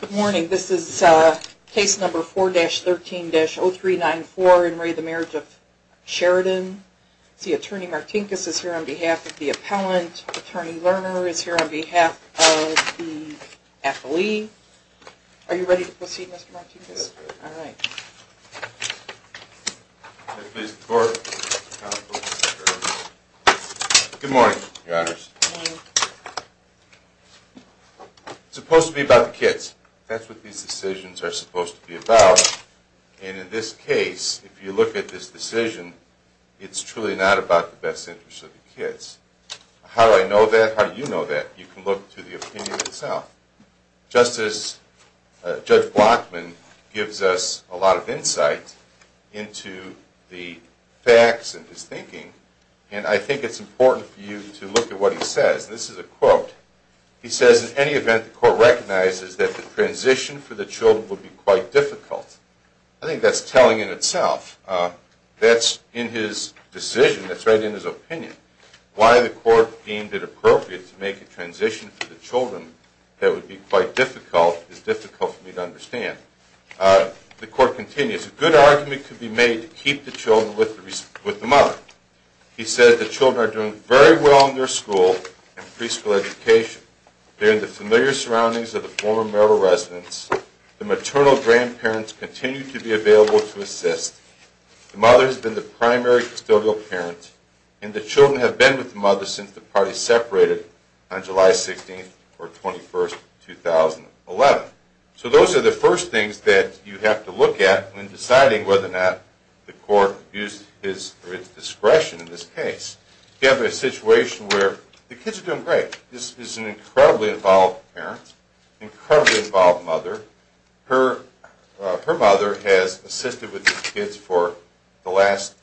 Good morning. This is case number 4-13-0394 in re the Marriage of Sheridan. Attorney Martinkus is here on behalf of the appellant. Attorney Lerner is here on behalf of the affilee. Are you ready to proceed, Mr. Martinkus? Yes, I am ready. May I please have the floor? Good morning, your honors. It's supposed to be about the kids. That's what these decisions are supposed to be about. And in this case, if you look at this decision, it's truly not about the best interest of the kids. How do I know that? How do you know that? You can look to the opinion itself. Just as Judge Blockman gives us a lot of insight into the facts and his thinking, and I think it's important for you to look at what he says. This is a quote. He says, in any event, the court recognizes that the transition for the children would be quite difficult. I think that's telling in itself. That's in his decision. That's right in his opinion. Why the court deemed it appropriate to make a transition for the children that would be quite difficult is difficult for me to understand. The court continues, a good argument could be made to keep the children with the mother. He says, the children are doing very well in their school and preschool education. They're in the familiar surroundings of the former Merrill residence. The maternal grandparents continue to be available to assist. The mother has been the primary custodial parent. And the children have been with the mother since the parties separated on July 16th or 21st, 2011. So those are the first things that you have to look at when deciding whether or not the court used his discretion in this case. You have a situation where the kids are doing great. This is an incredibly involved parent, incredibly involved mother. Her mother has assisted with these kids for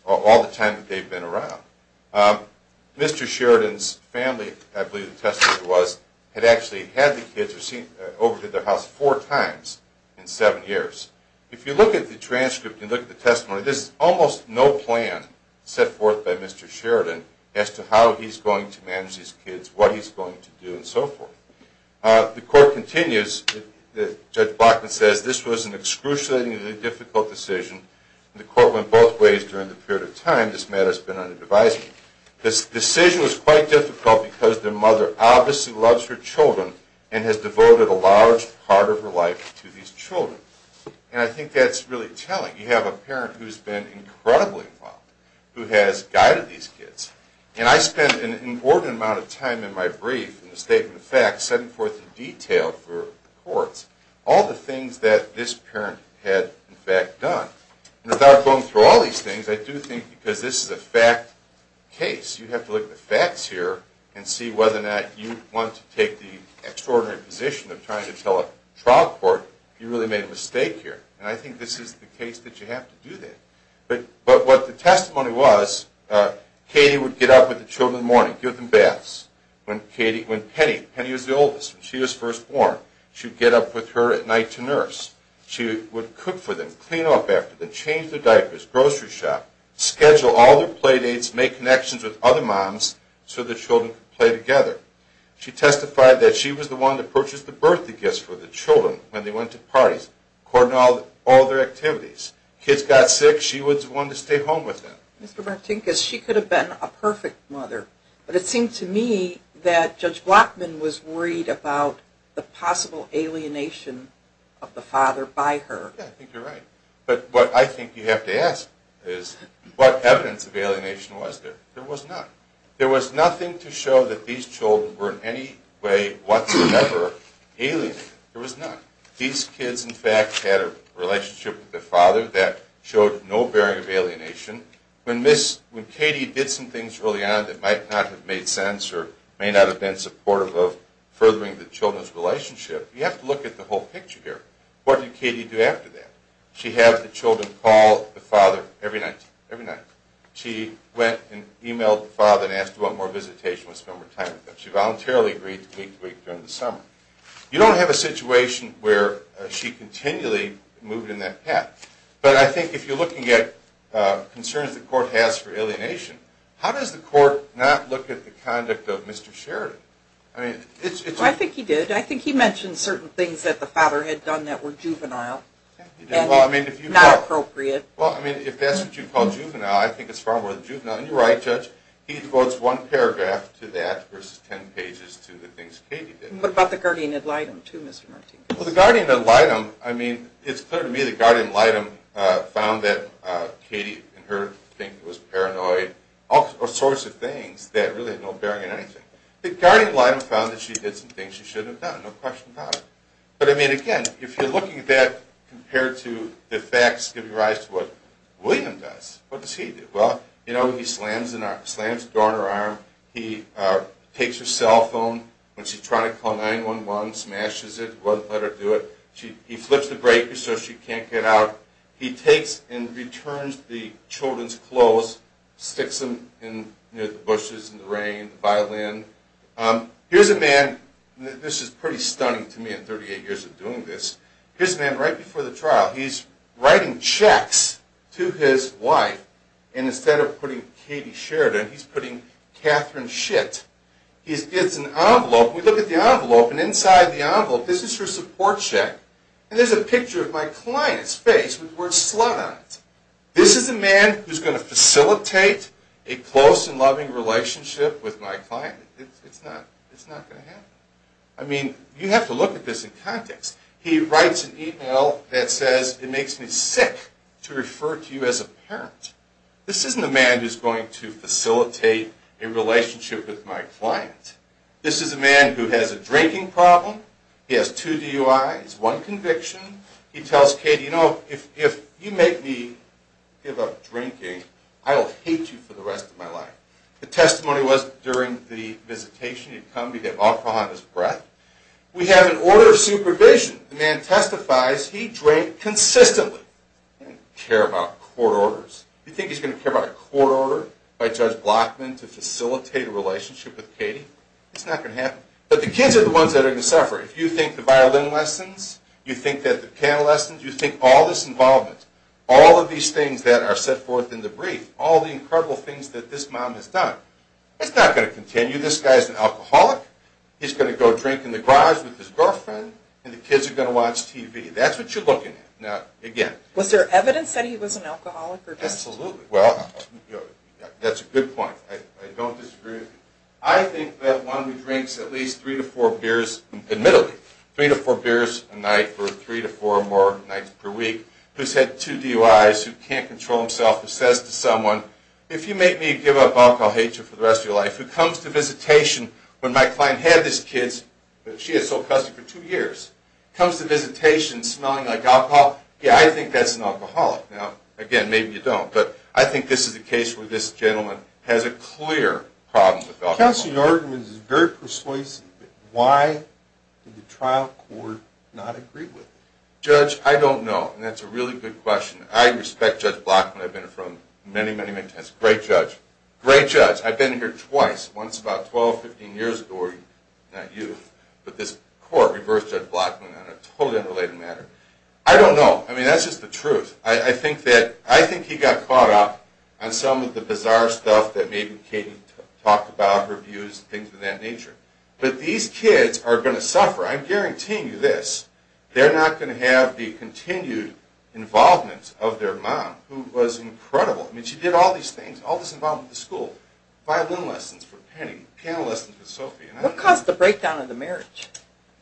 all the time that they've been around. Mr. Sheridan's family, I believe the testimony was, had actually had the kids over to their house four times in seven years. If you look at the transcript and look at the testimony, there's almost no plan set forth by Mr. Sheridan as to how he's going to manage these kids, what he's going to do and so forth. The court continues, Judge Bachman says, this was an excruciatingly difficult decision. The court went both ways during the period of time this matter's been under devising. This decision was quite difficult because the mother obviously loves her children and has devoted a large part of her life to these children. And I think that's really telling. You have a parent who's been incredibly involved, who has guided these kids. And I spent an important amount of time in my brief, in the statement of facts, setting forth the detail for the courts, all the things that this parent had in fact done. And without going through all these things, I do think because this is a fact case, you have to look at the facts here and see whether or not you want to take the extraordinary position of trying to tell a trial court if you really made a mistake here. And I think this is the case that you have to do that. But what the testimony was, Katie would get up with the children in the morning, give them baths. When Katie, when Penny, Penny was the oldest, when she was first born, she would get up with her at night to nurse. She would cook for them, clean up after them, change their diapers, grocery shop, schedule all their play dates, make connections with other moms so the children could play together. She testified that she was the one that purchased the birthday gifts for the children when they went to parties, according to all their activities. Kids got sick, she was the one to stay home with them. Mr. Martinkus, she could have been a perfect mother. But it seemed to me that Judge Blockman was worried about the possible alienation of the father by her. Yeah, I think you're right. But what I think you have to ask is, what evidence of alienation was there? There was none. There was nothing to show that these children were in any way whatsoever alienated. There was none. These kids, in fact, had a relationship with their father that showed no bearing of alienation. When Katie did some things early on that might not have made sense or may not have been supportive of furthering the children's relationship, you have to look at the whole picture here. What did Katie do after that? She had the children call the father every night, every night. She went and emailed the father and asked, do you want more visitation? Let's spend more time with them. She voluntarily agreed week to week during the summer. You don't have a situation where she continually moved in that path. But I think if you're looking at concerns the court has for alienation, how does the court not look at the conduct of Mr. Sheridan? I think he did. I think he mentioned certain things that the father had done that were juvenile and not appropriate. Well, I mean, if that's what you'd call juvenile, I think it's far more than juvenile. And you're right, Judge. He quotes one paragraph to that versus 10 pages to the things Katie did. What about the guardian ad litem, too, Mr. Martinez? Well, the guardian ad litem, I mean, it's clear to me the guardian ad litem found that Katie and her think it was paranoid, all sorts of things that really had no bearing on anything. The guardian ad litem found that she did some things she shouldn't have done, no question about it. But I mean, again, if you're looking at that compared to the facts giving rise to what William does, what does he do? Well, you know, he slams the door on her arm. He takes her cell phone when she's trying to call 9-1-1, smashes it, won't let her do it. He flips the breaker so she can't get out. He takes and returns the children's clothes, sticks them near the bushes in the rain, by land. Here's a man, this is pretty stunning to me in 38 years of doing this. Here's a man right before the trial. He's writing checks to his wife. And instead of putting Katie Sheridan, he's putting Katherine Schitt. It's an envelope. We look at the envelope, and inside the envelope, this is her support check. And there's a picture of my client's face with the word slut on it. This is a man who's going to facilitate a close and loving relationship with my client? It's not going to happen. I mean, you have to look at this in context. He writes an email that says, it makes me sick to refer to you as a parent. This isn't a man who's going to facilitate a relationship with my client. This is a man who has a drinking problem. He has two DUIs, one conviction. He tells Katie, you know, if you make me give up drinking, I will hate you for the rest of my life. The testimony was during the visitation. He'd come, he'd have alcohol on his breath. We have an order of supervision. The man testifies, he drank consistently. He didn't care about court orders. You think he's going to care about a court order by Judge Blockman to facilitate a relationship with Katie? It's not going to happen. But the kids are the ones that are going to suffer. If you think the violin lessons, you think that the piano lessons, you think all this involvement, all of these things that are set forth in the brief, all the incredible things that this mom has done, it's not going to continue. This guy's an alcoholic. He's going to go drink in the garage with his girlfriend, and the kids are going to watch TV. That's what you're looking at. Now, again. Was there evidence that he was an alcoholic? Absolutely. Well, that's a good point. I don't disagree. I think that one who drinks at least three to four beers, admittedly, three to four beers a night for three to four more nights per week, who's had two DUIs, who can't control himself, who says to someone, if you make me give up, I'll hate you for the rest of your life, who comes to visitation when my client had his kids, but she had sole custody for two years, comes to visitation smelling like alcohol. Yeah, I think that's an alcoholic. Now, again, maybe you don't, but I think this is a case where this gentleman has a clear problem with alcohol. Counsel, your argument is very persuasive. Why did the trial court not agree with it? Judge, I don't know, and that's a really good question. I respect Judge Blackman. I've been in front of him many, many, many times. Great judge. Great judge. I've been here twice. Once about 12, 15 years ago, not you, but this court reversed Judge Blackman on a totally unrelated matter. I don't know. I mean, that's just the truth. I think that, I think he got caught up on some of the bizarre stuff that maybe Katie talked about, her views, things of that nature, but these kids are going to suffer. I'm guaranteeing you this. They're not going to have the continued involvement of their mom, who was incredible. I mean, she did all these things, all this involvement with the school, violin lessons for Penny, piano lessons for Sophie. What caused the breakdown of the marriage?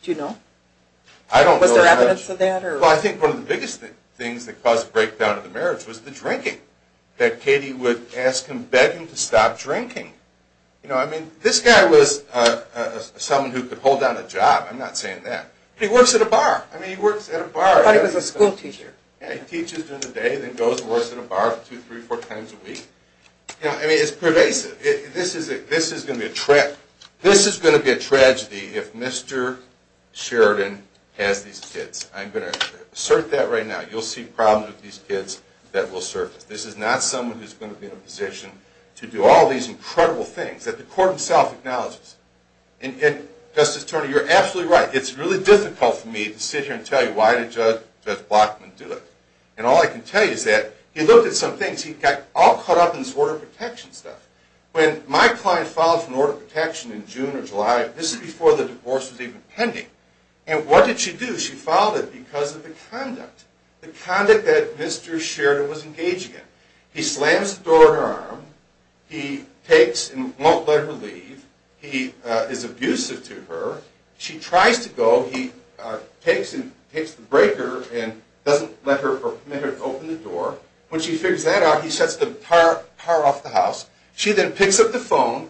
Do you know? I don't know. Was there evidence of that? Well, I think one of the biggest things that caused the breakdown of the marriage was the drinking, that Katie would ask him, beg him to stop drinking. You know, I mean, this guy was someone who could hold down a job. I'm not saying that. He works at a bar. I mean, he works at a bar. I thought he was a school teacher. Yeah, he teaches during the day, then goes and works at a bar two, three, four times a week. You know, I mean, it's pervasive. This is going to be a tragedy if Mr. Sheridan has these kids. I'm going to assert that right now. You'll see problems with these kids that will surface. This is not someone who's going to be in a position to do all these incredible things that the court itself acknowledges. And Justice Turner, you're absolutely right. It's really difficult for me to sit here and tell you why did Judge Blockman do it. And all I can tell you is that he looked at some things. He got all caught up in this order of protection stuff. When my client filed for an order of protection in June or July, this is before the divorce was even pending. And what did she do? She filed it because of the conduct, the conduct that Mr. Sheridan was engaging in. He slams the door in her arm. He takes and won't let her leave. He is abusive to her. She tries to go. He takes the breaker and doesn't let her open the door. When she figures that out, he sets the car off the house. She then picks up the phone.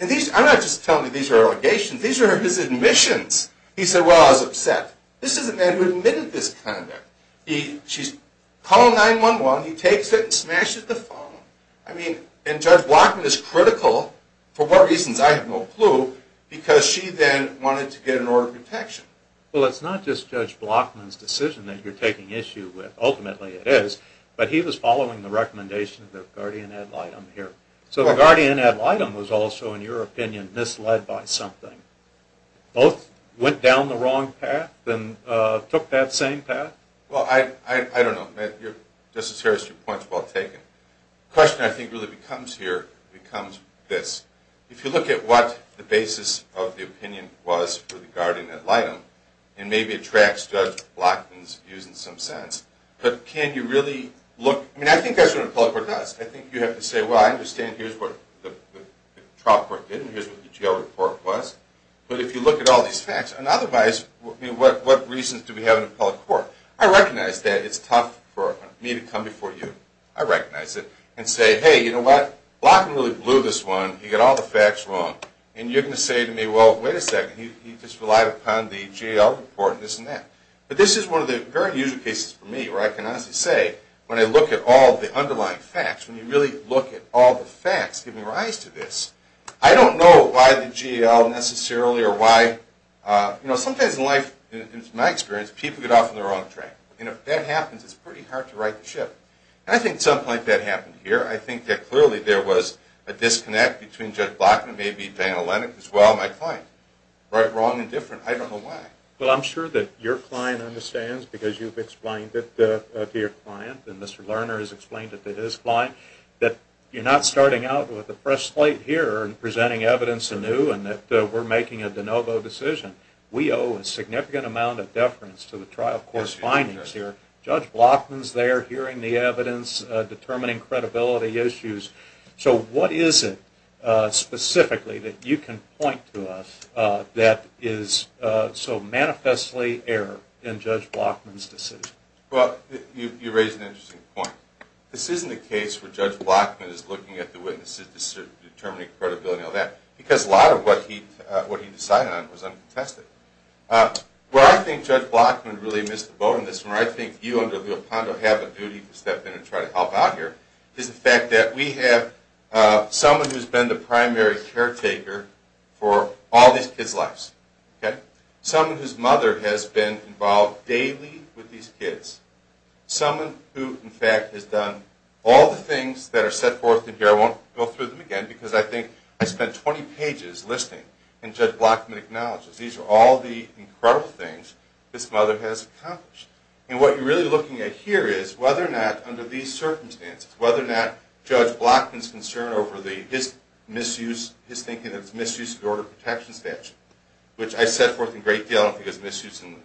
And I'm not just telling you these are allegations. These are his admissions. He said, well, I was upset. This is a man who admitted this conduct. She's calling 911. He takes it and smashes the phone. I mean, and Judge Blockman is critical, for what reasons, I have no clue, because she then wanted to get an order of protection. Well, it's not just Judge Blockman's decision that you're taking issue with. Ultimately, it is. But he was following the recommendation of the guardian ad litem here. So the guardian ad litem was also, in your opinion, misled by something. Both went down the wrong path and took that same path? Well, I don't know. Justice Harris, your point's well taken. The question, I think, really becomes here, becomes this. If you look at what the basis of the opinion was for the guardian ad litem, and maybe it Blockman's views in some sense. But can you really look? I mean, I think that's what an appellate court does. I think you have to say, well, I understand here's what the trial court did, and here's what the jail report was. But if you look at all these facts, and otherwise, what reasons do we have in an appellate court? I recognize that it's tough for me to come before you. I recognize it. And say, hey, you know what? Blockman really blew this one. He got all the facts wrong. And you're going to say to me, well, wait a second. He just relied upon the jail report, and this and that. But this is one of the very usual cases for me, where I can honestly say, when I look at all the underlying facts, when you really look at all the facts giving rise to this, I don't know why the jail necessarily, or why, you know, sometimes in life, in my experience, people get off on the wrong track. And if that happens, it's pretty hard to right the ship. And I think at some point that happened here. I think that clearly there was a disconnect between Judge Blockman, maybe Daniel Lennox as well, my client. Wrong and different. I don't know why. Well, I'm sure that your client understands, because you've explained it to your client, and Mr. Lerner has explained it to his client, that you're not starting out with a fresh slate here and presenting evidence anew, and that we're making a de novo decision. We owe a significant amount of deference to the trial court's findings here. Judge Blockman's there hearing the evidence, determining credibility issues. So what is it, specifically, that you can point to us that is so manifestly error in Judge Blockman's decision? Well, you raise an interesting point. This isn't a case where Judge Blockman is looking at the witnesses, determining credibility and all that, because a lot of what he decided on was uncontested. Where I think Judge Blockman really missed the boat in this, where I think you under someone who's been the primary caretaker for all these kids' lives, someone whose mother has been involved daily with these kids, someone who, in fact, has done all the things that are set forth in here. I won't go through them again, because I think I spent 20 pages listening, and Judge Blockman acknowledges these are all the incredible things this mother has accomplished. And what you're really looking at here is whether or not, under these circumstances, whether or not Judge Blockman's concern over his thinking that it's a misuse of the order of protection statute, which I set forth in great deal, I don't think it's misuse even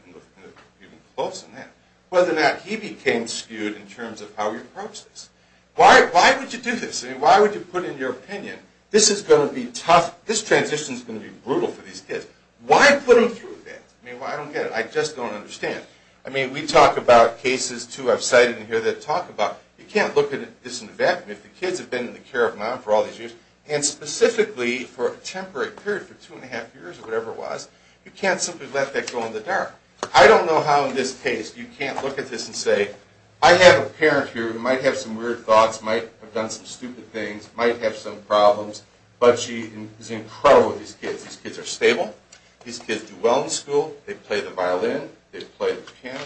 close to that, whether or not he became skewed in terms of how he approached this. Why would you do this? I mean, why would you put in your opinion, this is going to be tough, this transition is going to be brutal for these kids. Why put them through that? I mean, I don't get it. I just don't understand. I mean, we talk about cases, too, I've cited in here that talk about, you can't look at this in a vacuum. If the kids have been in the care of mom for all these years, and specifically for a temporary period, for two and a half years or whatever it was, you can't simply let that go in the dark. I don't know how in this case you can't look at this and say, I have a parent here who might have some weird thoughts, might have done some stupid things, might have some problems, but she is incredible with these kids. These kids are stable. These kids do well in school. They play the violin. They play the piano.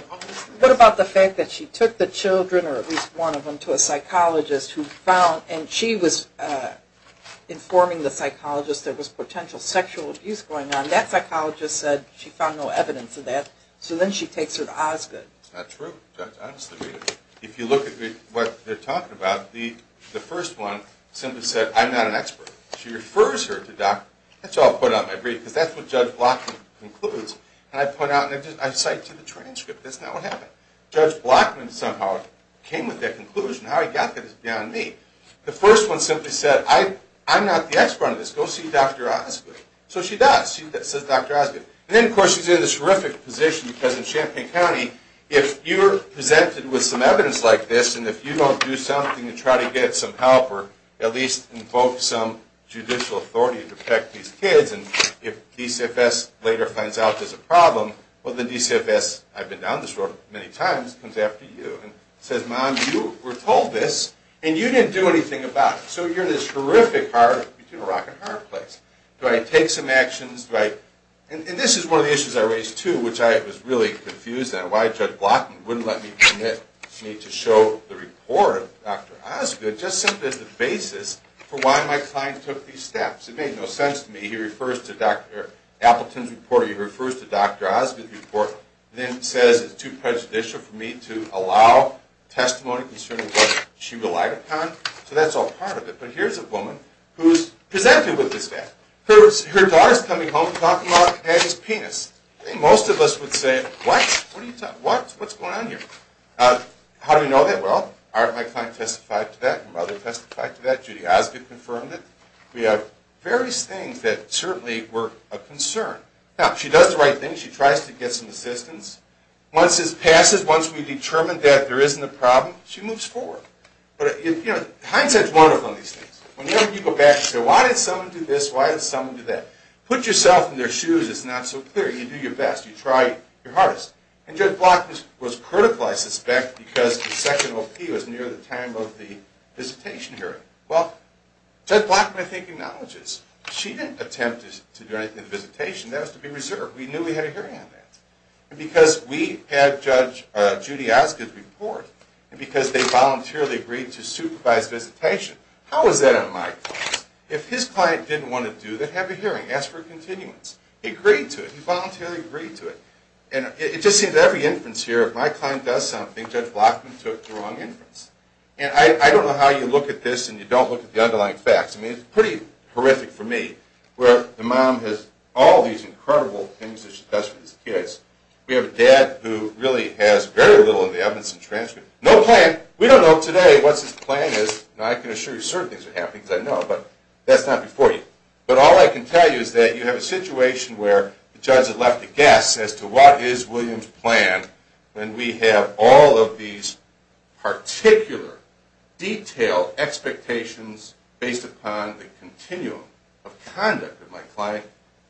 What about the fact that she took the children, or at least one of them, to a psychologist who found, and she was informing the psychologist there was potential sexual abuse going on. That psychologist said she found no evidence of that. So then she takes her to Osgoode. That's not true, Judge. Honestly, if you look at what they're talking about, the first one simply said, I'm not an expert. She refers her to doctors. That's how I put out my brief, because that's what Judge Block concludes. And I put out, and I cite to the transcript. That's not what happened. Judge Block somehow came with that conclusion. How he got that is beyond me. The first one simply said, I'm not the expert on this. Go see Dr. Osgoode. So she does. She says Dr. Osgoode. And then, of course, she's in this horrific position, because in Champaign County, if you're presented with some evidence like this, and if you don't do something to try to get some help, or at least invoke some judicial authority to protect these kids, and if DCFS later finds out there's a problem, well, the DCFS, I've been down this road many times, comes after you. And says, Mom, you were told this, and you didn't do anything about it. So you're in this horrific, between a rock and a hard place. Do I take some actions? And this is one of the issues I raised, too, which I was really confused on why Judge Block wouldn't let me permit me to show the report of Dr. Osgoode, just simply as the basis for why my client took these steps. It made no sense to me. He refers to Dr. Appleton's report, or he refers to Dr. Osgoode's report, and then says it's too prejudicial for me to allow testimony concerning what she relied upon. So that's all part of it. But here's a woman who's presented with this fact. Her daughter's coming home to talk about having his penis. I think most of us would say, what? What are you talking about? What's going on here? How do we know that? Well, my client testified to that. My mother testified to that. Judy Osgoode confirmed it. We have various things that certainly were a concern. Now, she does the right thing. She tries to get some assistance. Once this passes, once we determine that there isn't a problem, she moves forward. But hindsight's wonderful on these things. Whenever you go back and say, why did someone do this? Why did someone do that? Put yourself in their shoes, it's not so clear. You do your best. You try your hardest. And Judge Block was critical, I suspect, because the second OP was near the time of the visitation hearing. Well, Judge Block, I think, acknowledges. She didn't attempt to do anything at the visitation. That was to be reserved. We knew we had a hearing on that. Because we had Judge Judy Osgoode's report, and because they voluntarily agreed to supervise visitation, how is that on my case? If his client didn't want to do that, have a hearing. Ask for a continuance. He agreed to it. He voluntarily agreed to it. And it just seems every inference here, if my client does something, Judge Block took the wrong inference. And I don't know how you look at this and you don't look at the underlying facts. I mean, it's pretty horrific for me, where the mom has all these incredible things that she does for these kids. We have a dad who really has very little in the evidence and transcripts. No plan. We don't know today what his plan is. Now, I can assure you certain things are happening, because I know. But that's not before you. But all I can tell you is that you have a situation where the judge had left a guess as to what is William's plan. And we have all of these particular, detailed expectations based upon the continuum of conduct of my client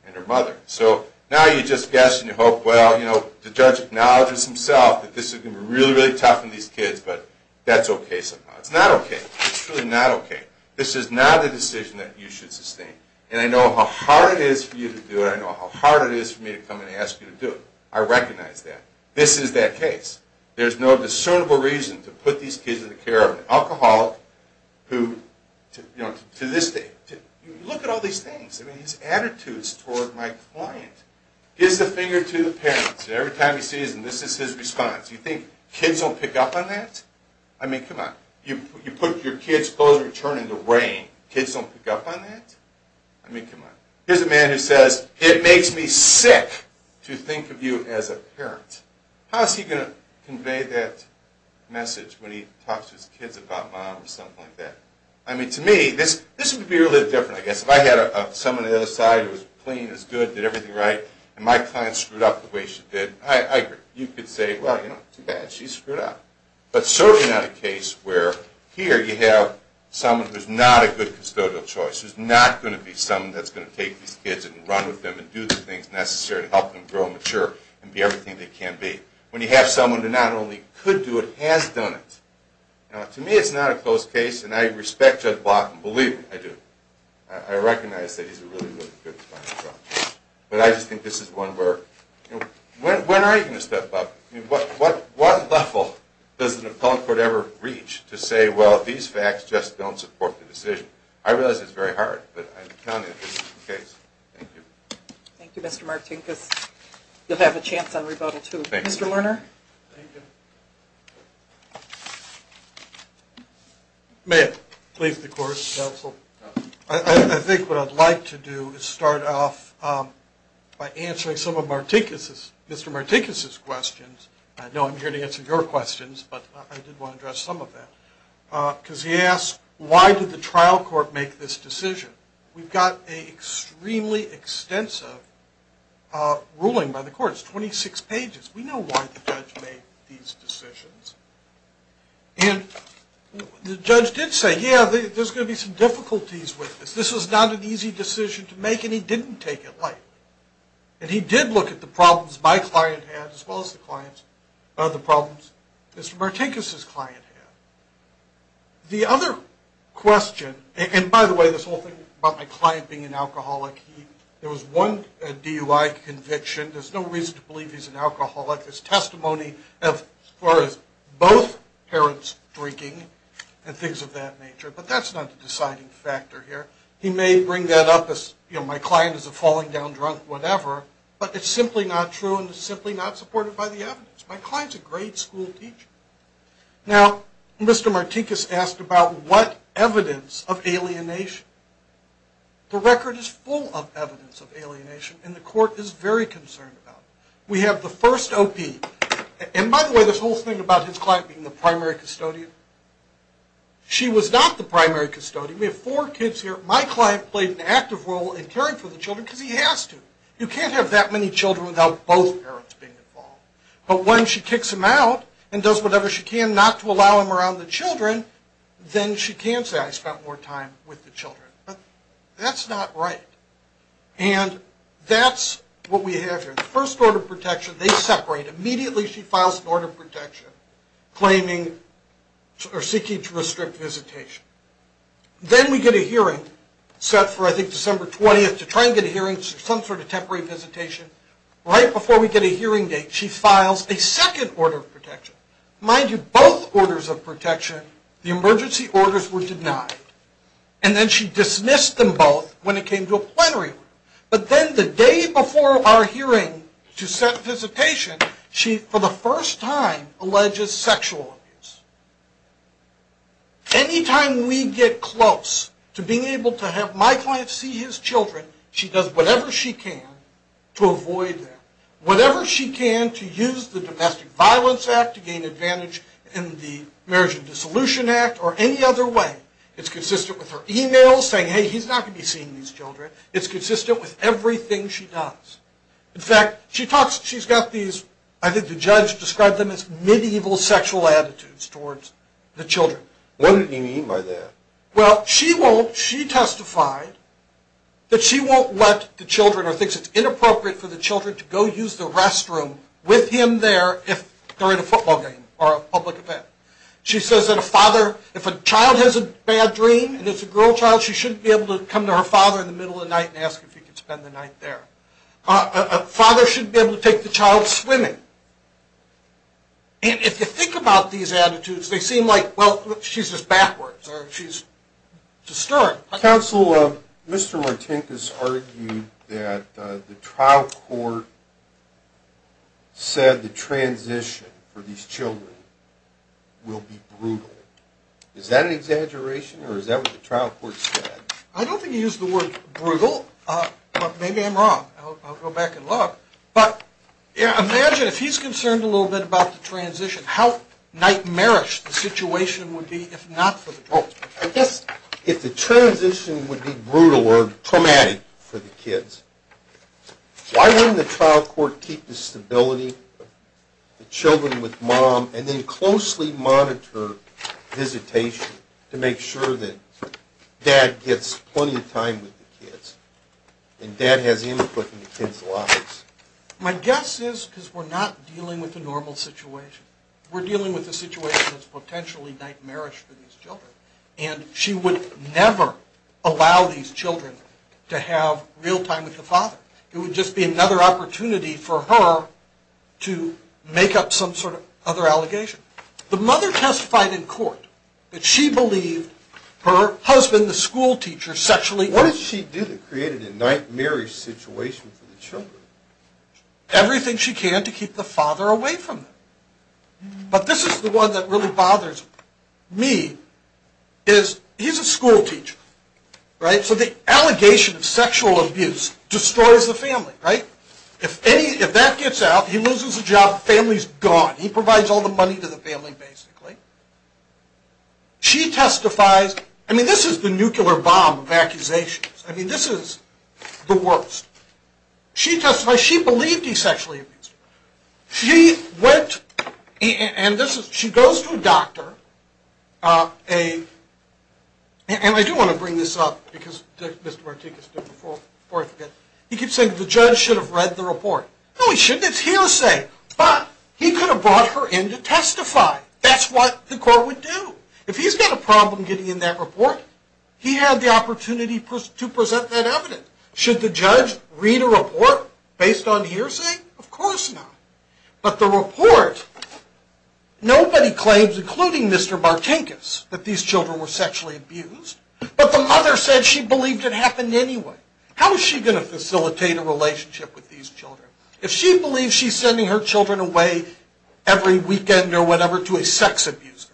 and her mother. So now you just guess and you hope, well, you know, the judge acknowledges himself that this is going to be really, really tough on these kids. But that's OK somehow. It's not OK. It's truly not OK. This is not a decision that you should sustain. And I know how hard it is for you to do it. I know how hard it is for me to come and ask you to do it. I recognize that. This is that case. There's no discernible reason to put these kids in the care of an alcoholic who, you know, to this day, you look at all these things. I mean, his attitudes toward my client. Gives the finger to the parents. Every time he sees them, this is his response. You think kids don't pick up on that? I mean, come on. You put your kid's clothes in the rain. Kids don't pick up on that? I mean, come on. Here's a man who says, it makes me sick to think of you as a parent. How's he going to convey that message when he talks to his kids about mom or something like that? I mean, to me, this would be a little different, I guess. If I had someone on the other side who was clean, was good, did everything right, and my client screwed up the way she did, I agree. You could say, well, you know, too bad. She screwed up. But it's certainly not a case where here you have someone who's not a good custodial choice, who's not going to be someone that's going to take these kids and run with them and do the things necessary to help them grow, mature, and be everything they can be. When you have someone who not only could do it, has done it. To me, it's not a close case. And I respect Judge Block, and believe me, I do. I recognize that he's a really, really good client of mine. But I just think this is one where, when are you going to step up? What level does an appellate court ever reach to say, well, these facts just don't support the decision? I realize it's very hard. But I'm counting it as a case. Thank you. Thank you, Mr. Martinkus. You'll have a chance on rebuttal, too. Thank you. Mr. Lerner? Thank you. May I please the court, counsel? I think what I'd like to do is start off by answering some of Mr. Martinkus's questions. I know I'm here to answer your questions. But I did want to address some of that. Because he asked, why did the trial court make this decision? We've got an extremely extensive ruling by the courts, 26 pages. We know why the judge made these decisions. And the judge did say, yeah, there's going to be some difficulties with this. This was not an easy decision to make, and he didn't take it lightly. And he did look at the problems my client had, as well as the problems Mr. Martinkus's client had. The other question, and by the way, this whole thing about my client being an alcoholic, there was one DUI conviction. There's no reason to believe he's an alcoholic. There's testimony as far as both parents drinking and things of that nature. But that's not the deciding factor here. He may bring that up as, you know, my client is a falling down drunk, whatever. But it's simply not true, and it's simply not supported by the evidence. My client's a great school teacher. Now, Mr. Martinkus asked about what evidence of alienation. The record is full of evidence of alienation, and the court is very concerned about it. We have the first OP, and by the way, this whole thing about his client being the primary custodian, she was not the primary custodian. We have four kids here. My client played an active role in caring for the children because he has to. You can't have that many children without both parents being involved. But when she kicks him out and does whatever she can not to allow him around the children, then she can say, I spent more time with the children. But that's not right, and that's what we have here. The first order of protection, they separate. Immediately, she files an order of protection claiming or seeking to restrict visitation. Then we get a hearing set for, I think, December 20th to try and get a hearing, some sort of temporary visitation. Right before we get a hearing date, she files a second order of protection. Mind you, both orders of protection, the emergency orders were denied, and then she dismissed them both when it came to a plenary one. But then the day before our hearing to set visitation, she, for the first time, alleges sexual abuse. Anytime we get close to being able to have my client see his children, she does whatever she can to avoid that. Whatever she can to use the Domestic Violence Act to gain advantage in the Marriage and Dissolution Act or any other way, it's consistent with her email saying, hey, he's not going to be seeing these children. It's consistent with everything she does. In fact, she talks, she's got these, I think the judge described them as medieval sexual attitudes towards the children. What do you mean by that? Well, she won't, she testified that she won't let the children or thinks it's inappropriate for the children to go use the restroom with him there if they're in a football game or a public event. She says that a father, if a child has a bad dream and it's a girl child, she shouldn't be able to come to her father in the middle of the night and ask if he could spend the night there. A father shouldn't be able to take the child swimming. And if you think about these attitudes, they seem like, she's just backwards or she's just stirring. Counselor, Mr. Martinkus argued that the trial court said the transition for these children will be brutal. Is that an exaggeration or is that what the trial court said? I don't think he used the word brutal, but maybe I'm wrong. I'll go back and look. But imagine if he's concerned a little bit about the transition, how nightmarish the situation would be if not for the trial court. I guess if the transition would be brutal or traumatic for the kids, why wouldn't the trial court keep the stability of the children with mom and then closely monitor visitation to make sure that dad gets plenty of time with the kids and dad has input in the kids' lives? My guess is because we're not dealing with a normal situation. We're dealing with a situation that's potentially nightmarish for these children and she would never allow these children to have real time with the father. It would just be another opportunity for her to make up some sort of other allegation. The mother testified in court that she believed her husband, the school teacher, sexually- What did she do that created a nightmarish situation for the children? Everything she can to keep the father away from them. But this is the one that really bothers me is he's a school teacher, right? So the allegation of sexual abuse destroys the family, right? If that gets out, he loses the job, the family's gone. He provides all the money to the family, basically. She testifies- I mean, this is the nuclear bomb of accusations. I mean, this is the worst. She testified she believed he sexually abused her. She went and she goes to a doctor. And I do want to bring this up because Mr. Martinkus did before I forget. He keeps saying the judge should have read the report. No, he shouldn't. It's hearsay. But he could have brought her in to testify. That's what the court would do. If he's got a problem getting in that report, he had the opportunity to present that evidence. Should the judge read a report based on hearsay? Of course not. But the report, nobody claims, including Mr. Martinkus, that these children were sexually abused. But the mother said she believed it happened anyway. How is she going to facilitate a relationship with these children? If she believes she's sending her children away every weekend or whatever to a sex abuser,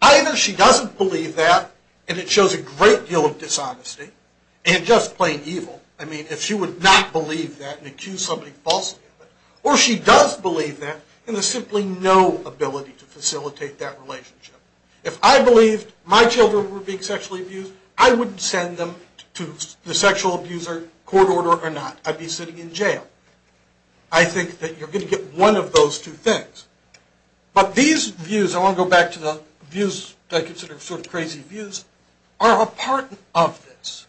either she doesn't believe that and it shows a great deal of dishonesty and just plain evil. I mean, if she would not believe that and accuse somebody falsely of it. Or she does believe that and there's simply no ability to facilitate that relationship. If I believed my children were being sexually abused, I wouldn't send them to the sexual abuser court order or not. I'd be sitting in jail. I think that you're going to get one of those two things. But these views, I want to go back to the views that I consider sort of crazy views, are a part of this.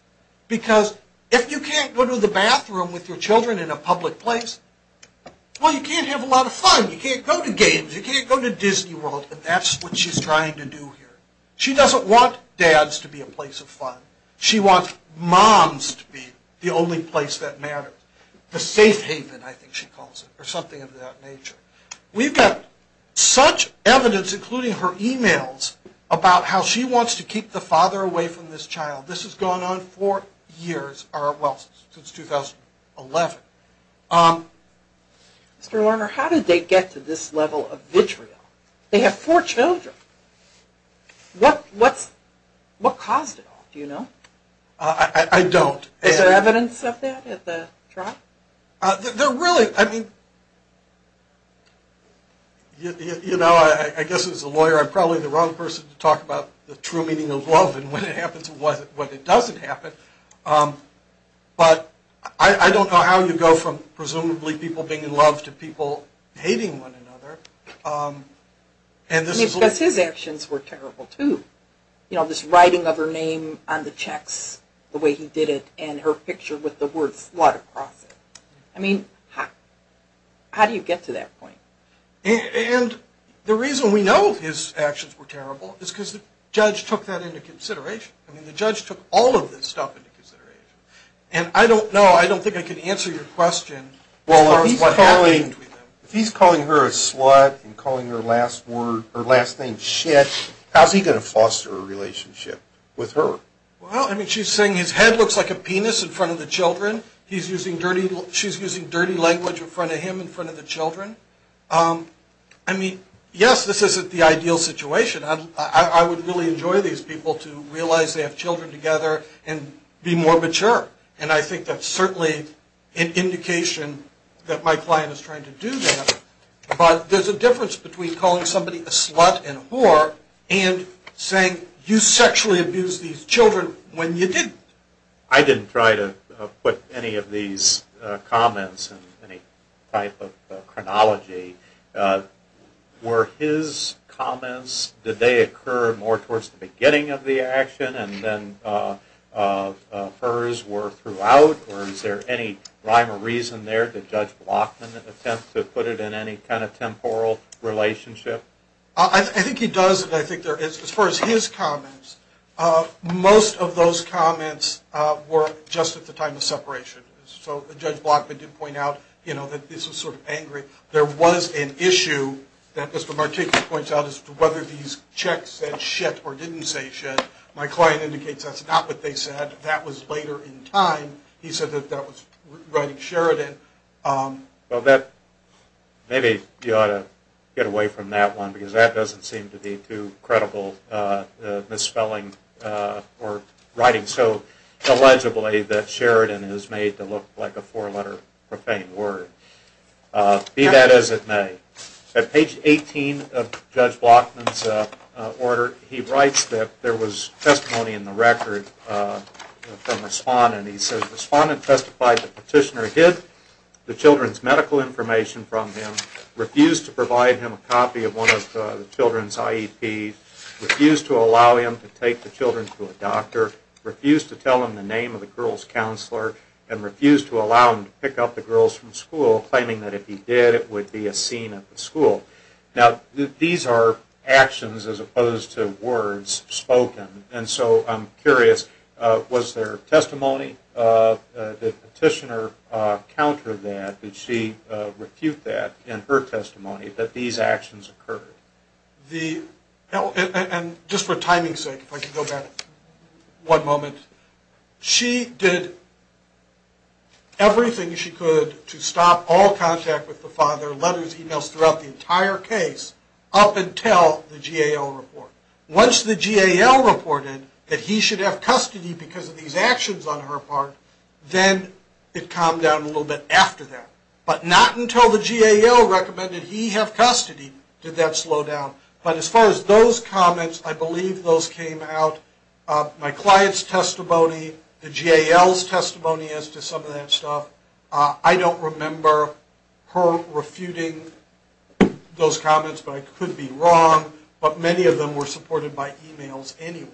Because if you can't go to the bathroom with your children in a public place, well, you can't have a lot of fun. You can't go to games. You can't go to Disney World. And that's what she's trying to do here. She doesn't want dads to be a place of fun. She wants moms to be the only place that matters. The safe haven, I think she calls it, or something of that nature. We've got such evidence, including her emails, about how she wants to keep the father away from this child. This has gone on for years, well, since 2011. Mr. Lerner, how did they get to this level of vitriol? They have four children. What caused it all, do you know? I don't. Is there evidence of that at the trial? There really, I mean, you know, I guess as a lawyer, I'm probably the wrong person to talk about the true meaning of love and when it happens and when it doesn't happen. But I don't know how you go from presumably people being in love to people hating one another. I mean, because his actions were terrible, too. You know, this writing of her name on the checks, the way he did it, and her picture with the word slut across it. I mean, how do you get to that point? And the reason we know his actions were terrible is because the judge took that into consideration. I mean, the judge took all of this stuff into consideration. And I don't know, I don't think I can answer your question as far as what happened between them. If he's calling her a slut and calling her last word, her last name, shit, how's he going to foster a relationship with her? Well, I mean, she's saying his head looks like a penis in front of the children. She's using dirty language in front of him in front of the children. I mean, yes, this isn't the ideal situation. I would really enjoy these people to realize they have children together and be more mature. And I think that's certainly an indication that my client is trying to do that. But there's a difference between calling somebody a slut and a whore and saying, you sexually abused these children when you didn't. I didn't try to put any of these comments in any type of chronology. Were his comments, did they occur more towards the beginning of the action and then hers were throughout? Or is there any rhyme or reason there? Did Judge Blockman attempt to put it in any kind of temporal relationship? I think he does, and I think there is. As far as his comments, most of those comments were just at the time of separation. So Judge Blockman did point out that this was sort of angry. There was an issue that Mr. Martinko points out as to whether these checks said shit or didn't say shit. My client indicates that's not what they said. That was later in time. He said that that was writing Sheridan. Well, maybe you ought to get away from that one because that doesn't seem to be too credible misspelling or writing so illegibly that Sheridan is made to look like a four letter profane word. Be that as it may, at page 18 of Judge Blockman's order, he writes that there was testimony in the record from a respondent. He says, respondent testified the petitioner hid the children's medical information from him, refused to provide him a copy of one of the children's IEPs, refused to allow him to take the children to a doctor, refused to tell him the name of the girls counselor, and refused to allow him to pick up the girls from school, claiming that if he did, it would be a scene at the school. Now, these are actions as opposed to words spoken. And so I'm curious, was there testimony? Did the petitioner counter that? Did she refute that in her testimony that these actions occurred? The, and just for timing's sake, if I could go back one moment. She did everything she could to stop all contact with the father, letters, emails throughout the entire case, up until the GAL report. Once the GAL reported that he should have custody because of these actions on her part, then it calmed down a little bit after that. But not until the GAL recommended he have custody did that slow down. But as far as those comments, I believe those came out. My client's testimony, the GAL's testimony as to some of that stuff, I don't remember her refuting those comments, but I could be wrong. But many of them were supported by emails anyway.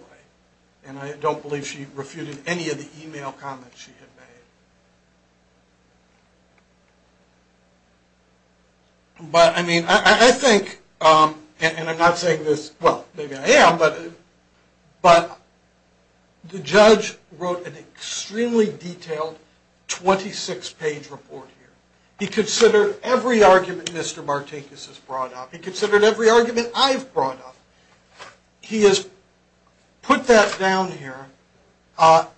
And I don't believe she refuted any of the email comments. But I mean, I think, and I'm not saying this, well, maybe I am, but the judge wrote an extremely detailed 26-page report here. He considered every argument Mr. Martinkus has brought up. He considered every argument I've brought up. He has put that down here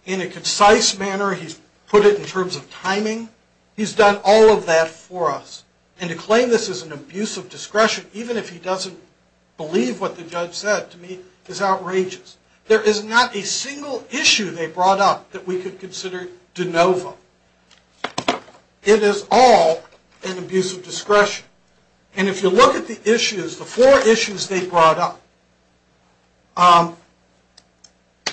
in a concise manner. He's put it in terms of timing. He's done all of that for us. And to claim this is an abuse of discretion, even if he doesn't believe what the judge said, to me, is outrageous. There is not a single issue they brought up that we could consider de novo. It is all an abuse of discretion. And if you look at the issues, the four issues they brought up,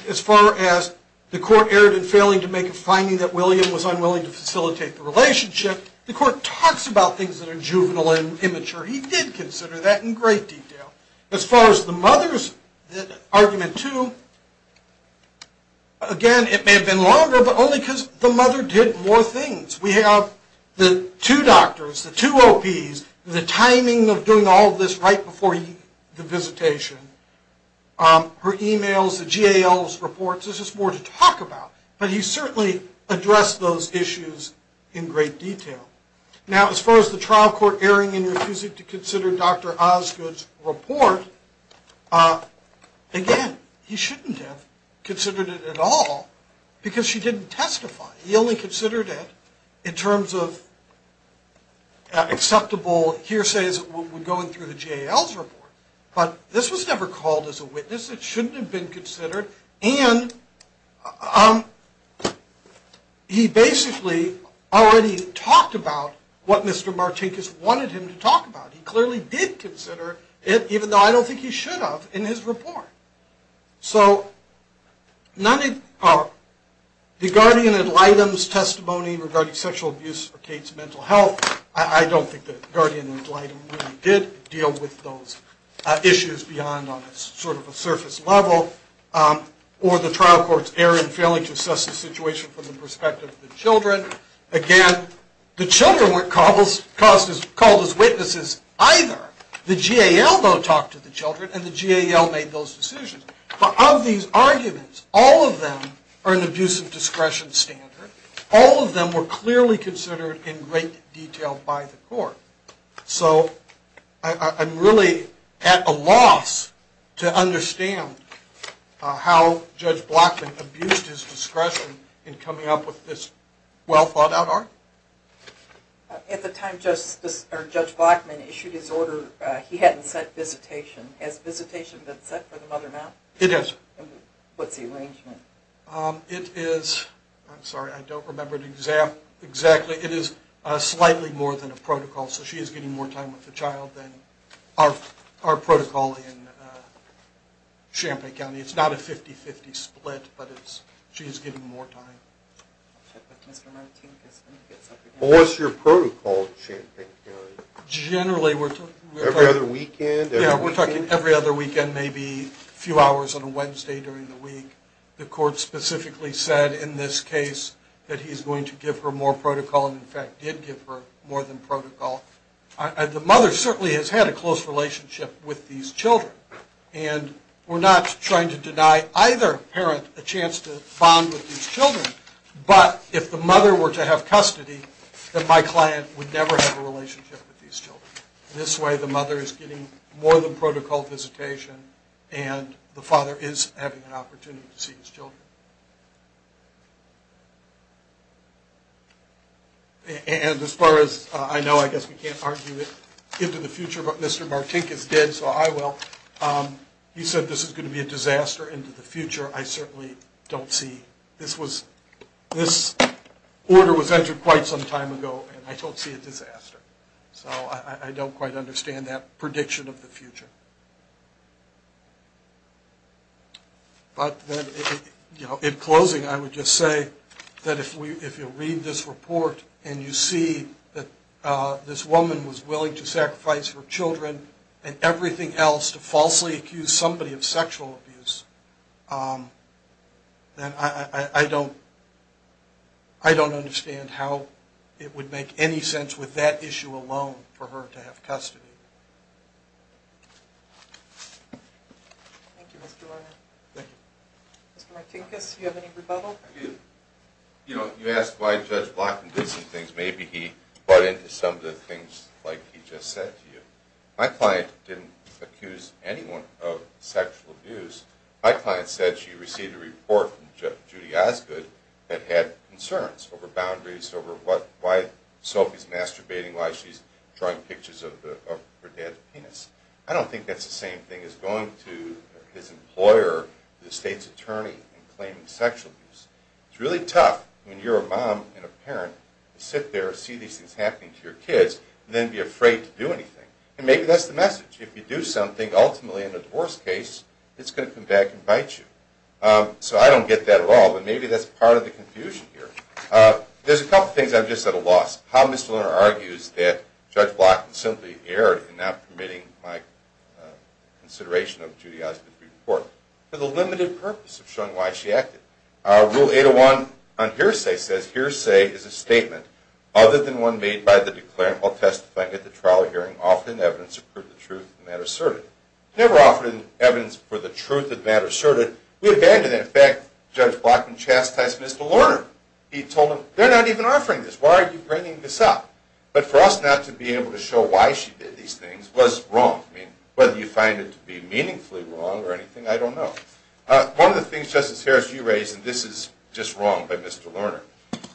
as far as the court erred in failing to make a finding that William was unwilling to facilitate the relationship, the court talks about things that are juvenile and immature. He did consider that in great detail. As far as the mother's argument too, again, it may have been longer, but only because the mother did more things. We have the two doctors, the two OPs, the timing of doing all of this right before the visitation, her emails, the GAL's reports. There's just more to talk about. But he certainly addressed those issues in great detail. Now, as far as the trial court erring in refusing to consider Dr. Osgood's report, again, he shouldn't have considered it at all because she didn't testify. He only considered it in terms of acceptable hearsays going through the GAL's report. But this was never called as a witness. It shouldn't have been considered. And he basically already talked about what Mr. Martinkus wanted him to talk about. He clearly did consider it, even though I don't think he should have, in his report. So the guardian ad litem's testimony regarding sexual abuse for Kate's mental health, I don't think the guardian ad litem really did deal with those issues beyond on sort of a surface level, or the trial court's error in failing to assess the situation from the perspective of the children. Again, the children weren't called as witnesses either. The GAL, though, talked to the children, and the GAL made those decisions. But of these arguments, all of them are an abuse of discretion standard. All of them were clearly considered in great detail by the court. So I'm really at a loss to understand how Judge Blackman abused his discretion in coming up with this well-thought-out argument. At the time Judge Blackman issued his order, he hadn't set visitation. Has visitation been set for the mother now? It has. What's the arrangement? It is, I'm sorry, I don't remember exactly. It is slightly more than a protocol. So she is getting more time with the child than our protocol in Champaign County. It's not a 50-50 split, but she is getting more time. I'll check with Mr. Martinkus when he gets up again. Well, what's your protocol in Champaign County? Generally, we're talking— Every other weekend? Yeah, we're talking every other weekend, maybe a few hours on a Wednesday during the week. The court specifically said in this case that he's going to give her more protocol, and in fact did give her more than protocol. The mother certainly has had a close relationship with these children, and we're not trying to deny either parent a chance to bond with these children, but if the mother were to have custody, then my client would never have a relationship with these children. This way, the mother is getting more than protocol visitation, and the father is having an opportunity to see his children. And as far as I know, I guess we can't argue it into the future, but Mr. Martinkus did, so I will. He said this is going to be a disaster into the future. I certainly don't see. This order was entered quite some time ago, and I don't see a disaster, so I don't quite understand that prediction of the future. But in closing, I would just say that if you read this report and you see that this woman was willing to sacrifice her children and everything else to falsely accuse somebody of sexual abuse, then I don't understand how it would make any sense with that issue alone for her to have custody. Thank you, Mr. Warner. Thank you. Mr. Martinkus, do you have any rebuttal? Well, you know, you asked why Judge Blackman did some things. Maybe he bought into some of the things like he just said to you. My client didn't accuse anyone of sexual abuse. My client said she received a report from Judy Osgood that had concerns over boundaries, over why Sophie's masturbating, why she's drawing pictures of her dad's penis. I don't think that's the same thing as going to his employer, the state's attorney, and claiming sexual abuse. It's really tough when you're a mom and a parent to sit there and see these things happening to your kids and then be afraid to do anything. And maybe that's the message. If you do something, ultimately in a divorce case, it's going to come back and bite you. So I don't get that at all, but maybe that's part of the confusion here. There's a couple things I'm just at a loss. How Mr. Warner argues that Judge Blackman simply erred in not permitting my consideration of Judy Osgood's report for the limited purpose of showing why she acted. Our Rule 801 on hearsay says, Hearsay is a statement other than one made by the declarant while testifying at the trial or hearing offered in evidence to prove the truth of the matter asserted. Never offered in evidence for the truth of the matter asserted. We abandoned that fact. Judge Blackman chastised Mr. Warner. He told him, they're not even offering this. Why are you bringing this up? But for us not to be able to show why she did these things was wrong. Whether you find it to be meaningfully wrong or anything, I don't know. One of the things Justice Harris, you raised, and this is just wrong by Mr. Lerner.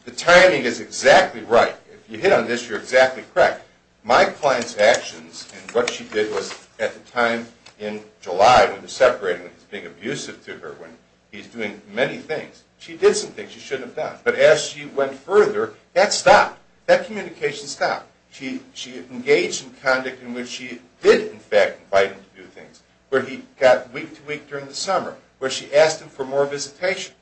The timing is exactly right. If you hit on this, you're exactly correct. My client's actions and what she did was at the time in July when they're separating with being abusive to her when he's doing many things. She did some things she shouldn't have done. But as she went further, that stopped. That communication stopped. She engaged in conduct in which she did, in fact, invite him to do things. Where he got week to week during the summer. Where she asked him for more visitation.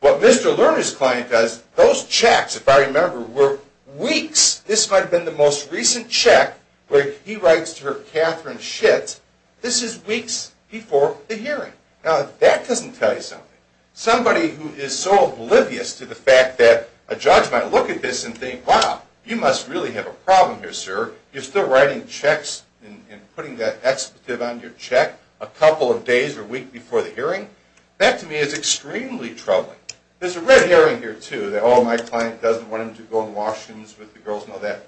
What Mr. Lerner's client does, those checks, if I remember, were weeks. This might have been the most recent check where he writes to her, Katherine Schitt. This is weeks before the hearing. Now, that doesn't tell you something. Somebody who is so oblivious to the fact that a judge might look at this and think, wow, you must really have a problem here, sir. You're still writing checks and putting that expetive on your check a couple of days or weeks before the hearing. That, to me, is extremely troubling. There's a red herring here, too, that, oh, my client doesn't want him to go in washrooms with the girls. No, that's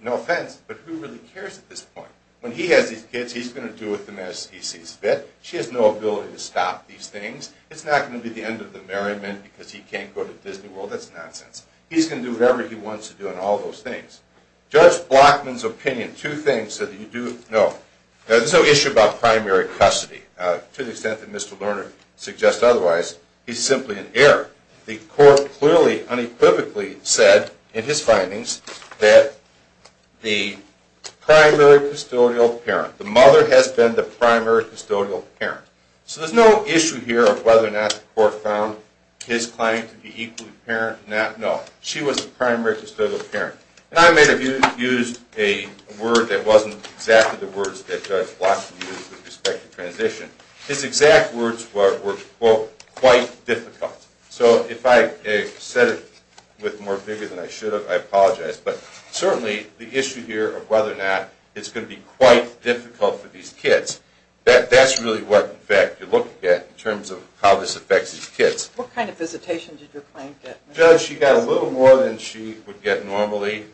no offense. But who really cares at this point? When he has these kids, he's going to do with them as he sees fit. She has no ability to stop these things. It's not going to be the end of the merriment because he can't go to Disney World. That's nonsense. He's going to do whatever he wants to do and all those things. Judge Blockman's opinion, two things that you do know. There's no issue about primary custody. To the extent that Mr. Lerner suggests otherwise, he's simply an error. The court clearly, unequivocally said in his findings that the primary custodial parent, the mother has been the primary custodial parent. So there's no issue here of whether or not the court found his client to be equally apparent or not. No, she was the primary custodial parent. And I may have used a word that wasn't exactly the words that Judge Blockman used with respect to transition. His exact words were, quote, quite difficult. So if I said it with more vigor than I should have, I apologize. But certainly, the issue here of whether or not it's going to be quite difficult for these kids, that's really what, in fact, you're looking at in terms of how this affects these kids. What kind of visitation did your client get? Judge, she got a little more than she would get normally.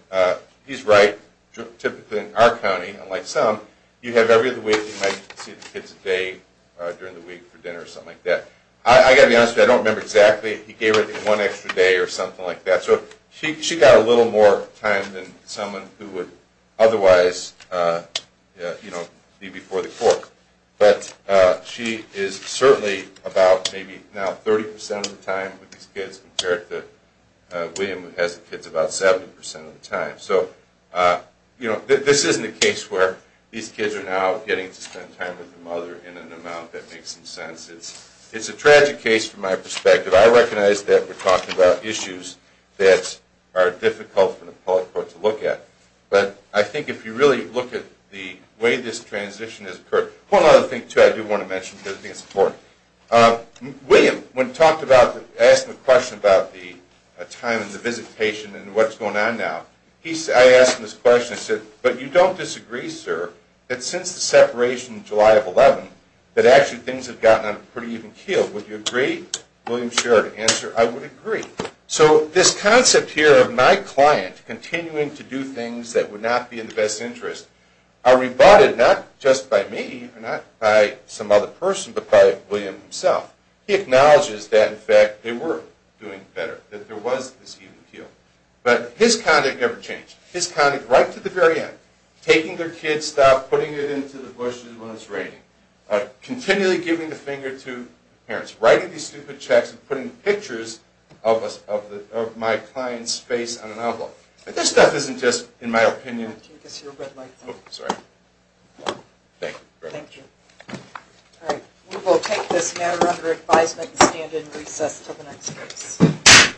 He's right. Typically, in our county, unlike some, you have every other week, you might see the kids a day during the week for dinner or something like that. I got to be honest with you, I don't remember exactly. He gave her one extra day or something like that. So she got a little more time than someone who would otherwise be before the court. But she is certainly about maybe now 30% of the time with these kids compared to William, who has the kids about 70% of the time. So this isn't a case where these kids are now getting to spend time with the mother in an amount that makes some sense. It's a tragic case from my perspective. I recognize that we're talking about issues that are difficult for the public court to look at. But I think if you really look at the way this transition has occurred. One other thing, too, I do want to mention, because I think it's important. William, when asked the question about the time and the visitation and what's going on now, I asked him this question. I said, but you don't disagree, sir, that since the separation in July of 2011, that actually things have gotten on a pretty even keel. Would you agree? William shared an answer, I would agree. So this concept here of my client continuing to do things that would not be in the best interest are rebutted not just by me, not by some other person, but by William himself. He acknowledges that, in fact, they were doing better, that there was this even keel. But his conduct never changed. His conduct right to the very end, taking their kids stuff, putting it into the bushes when it's raining, continually giving the finger to parents, writing these stupid checks and putting pictures of my client's face on an envelope. But this stuff isn't just, in my opinion... Can you give us your red light? Oh, sorry. Thank you. Thank you. All right. We will take this matter under advisement and stand in recess until the next case.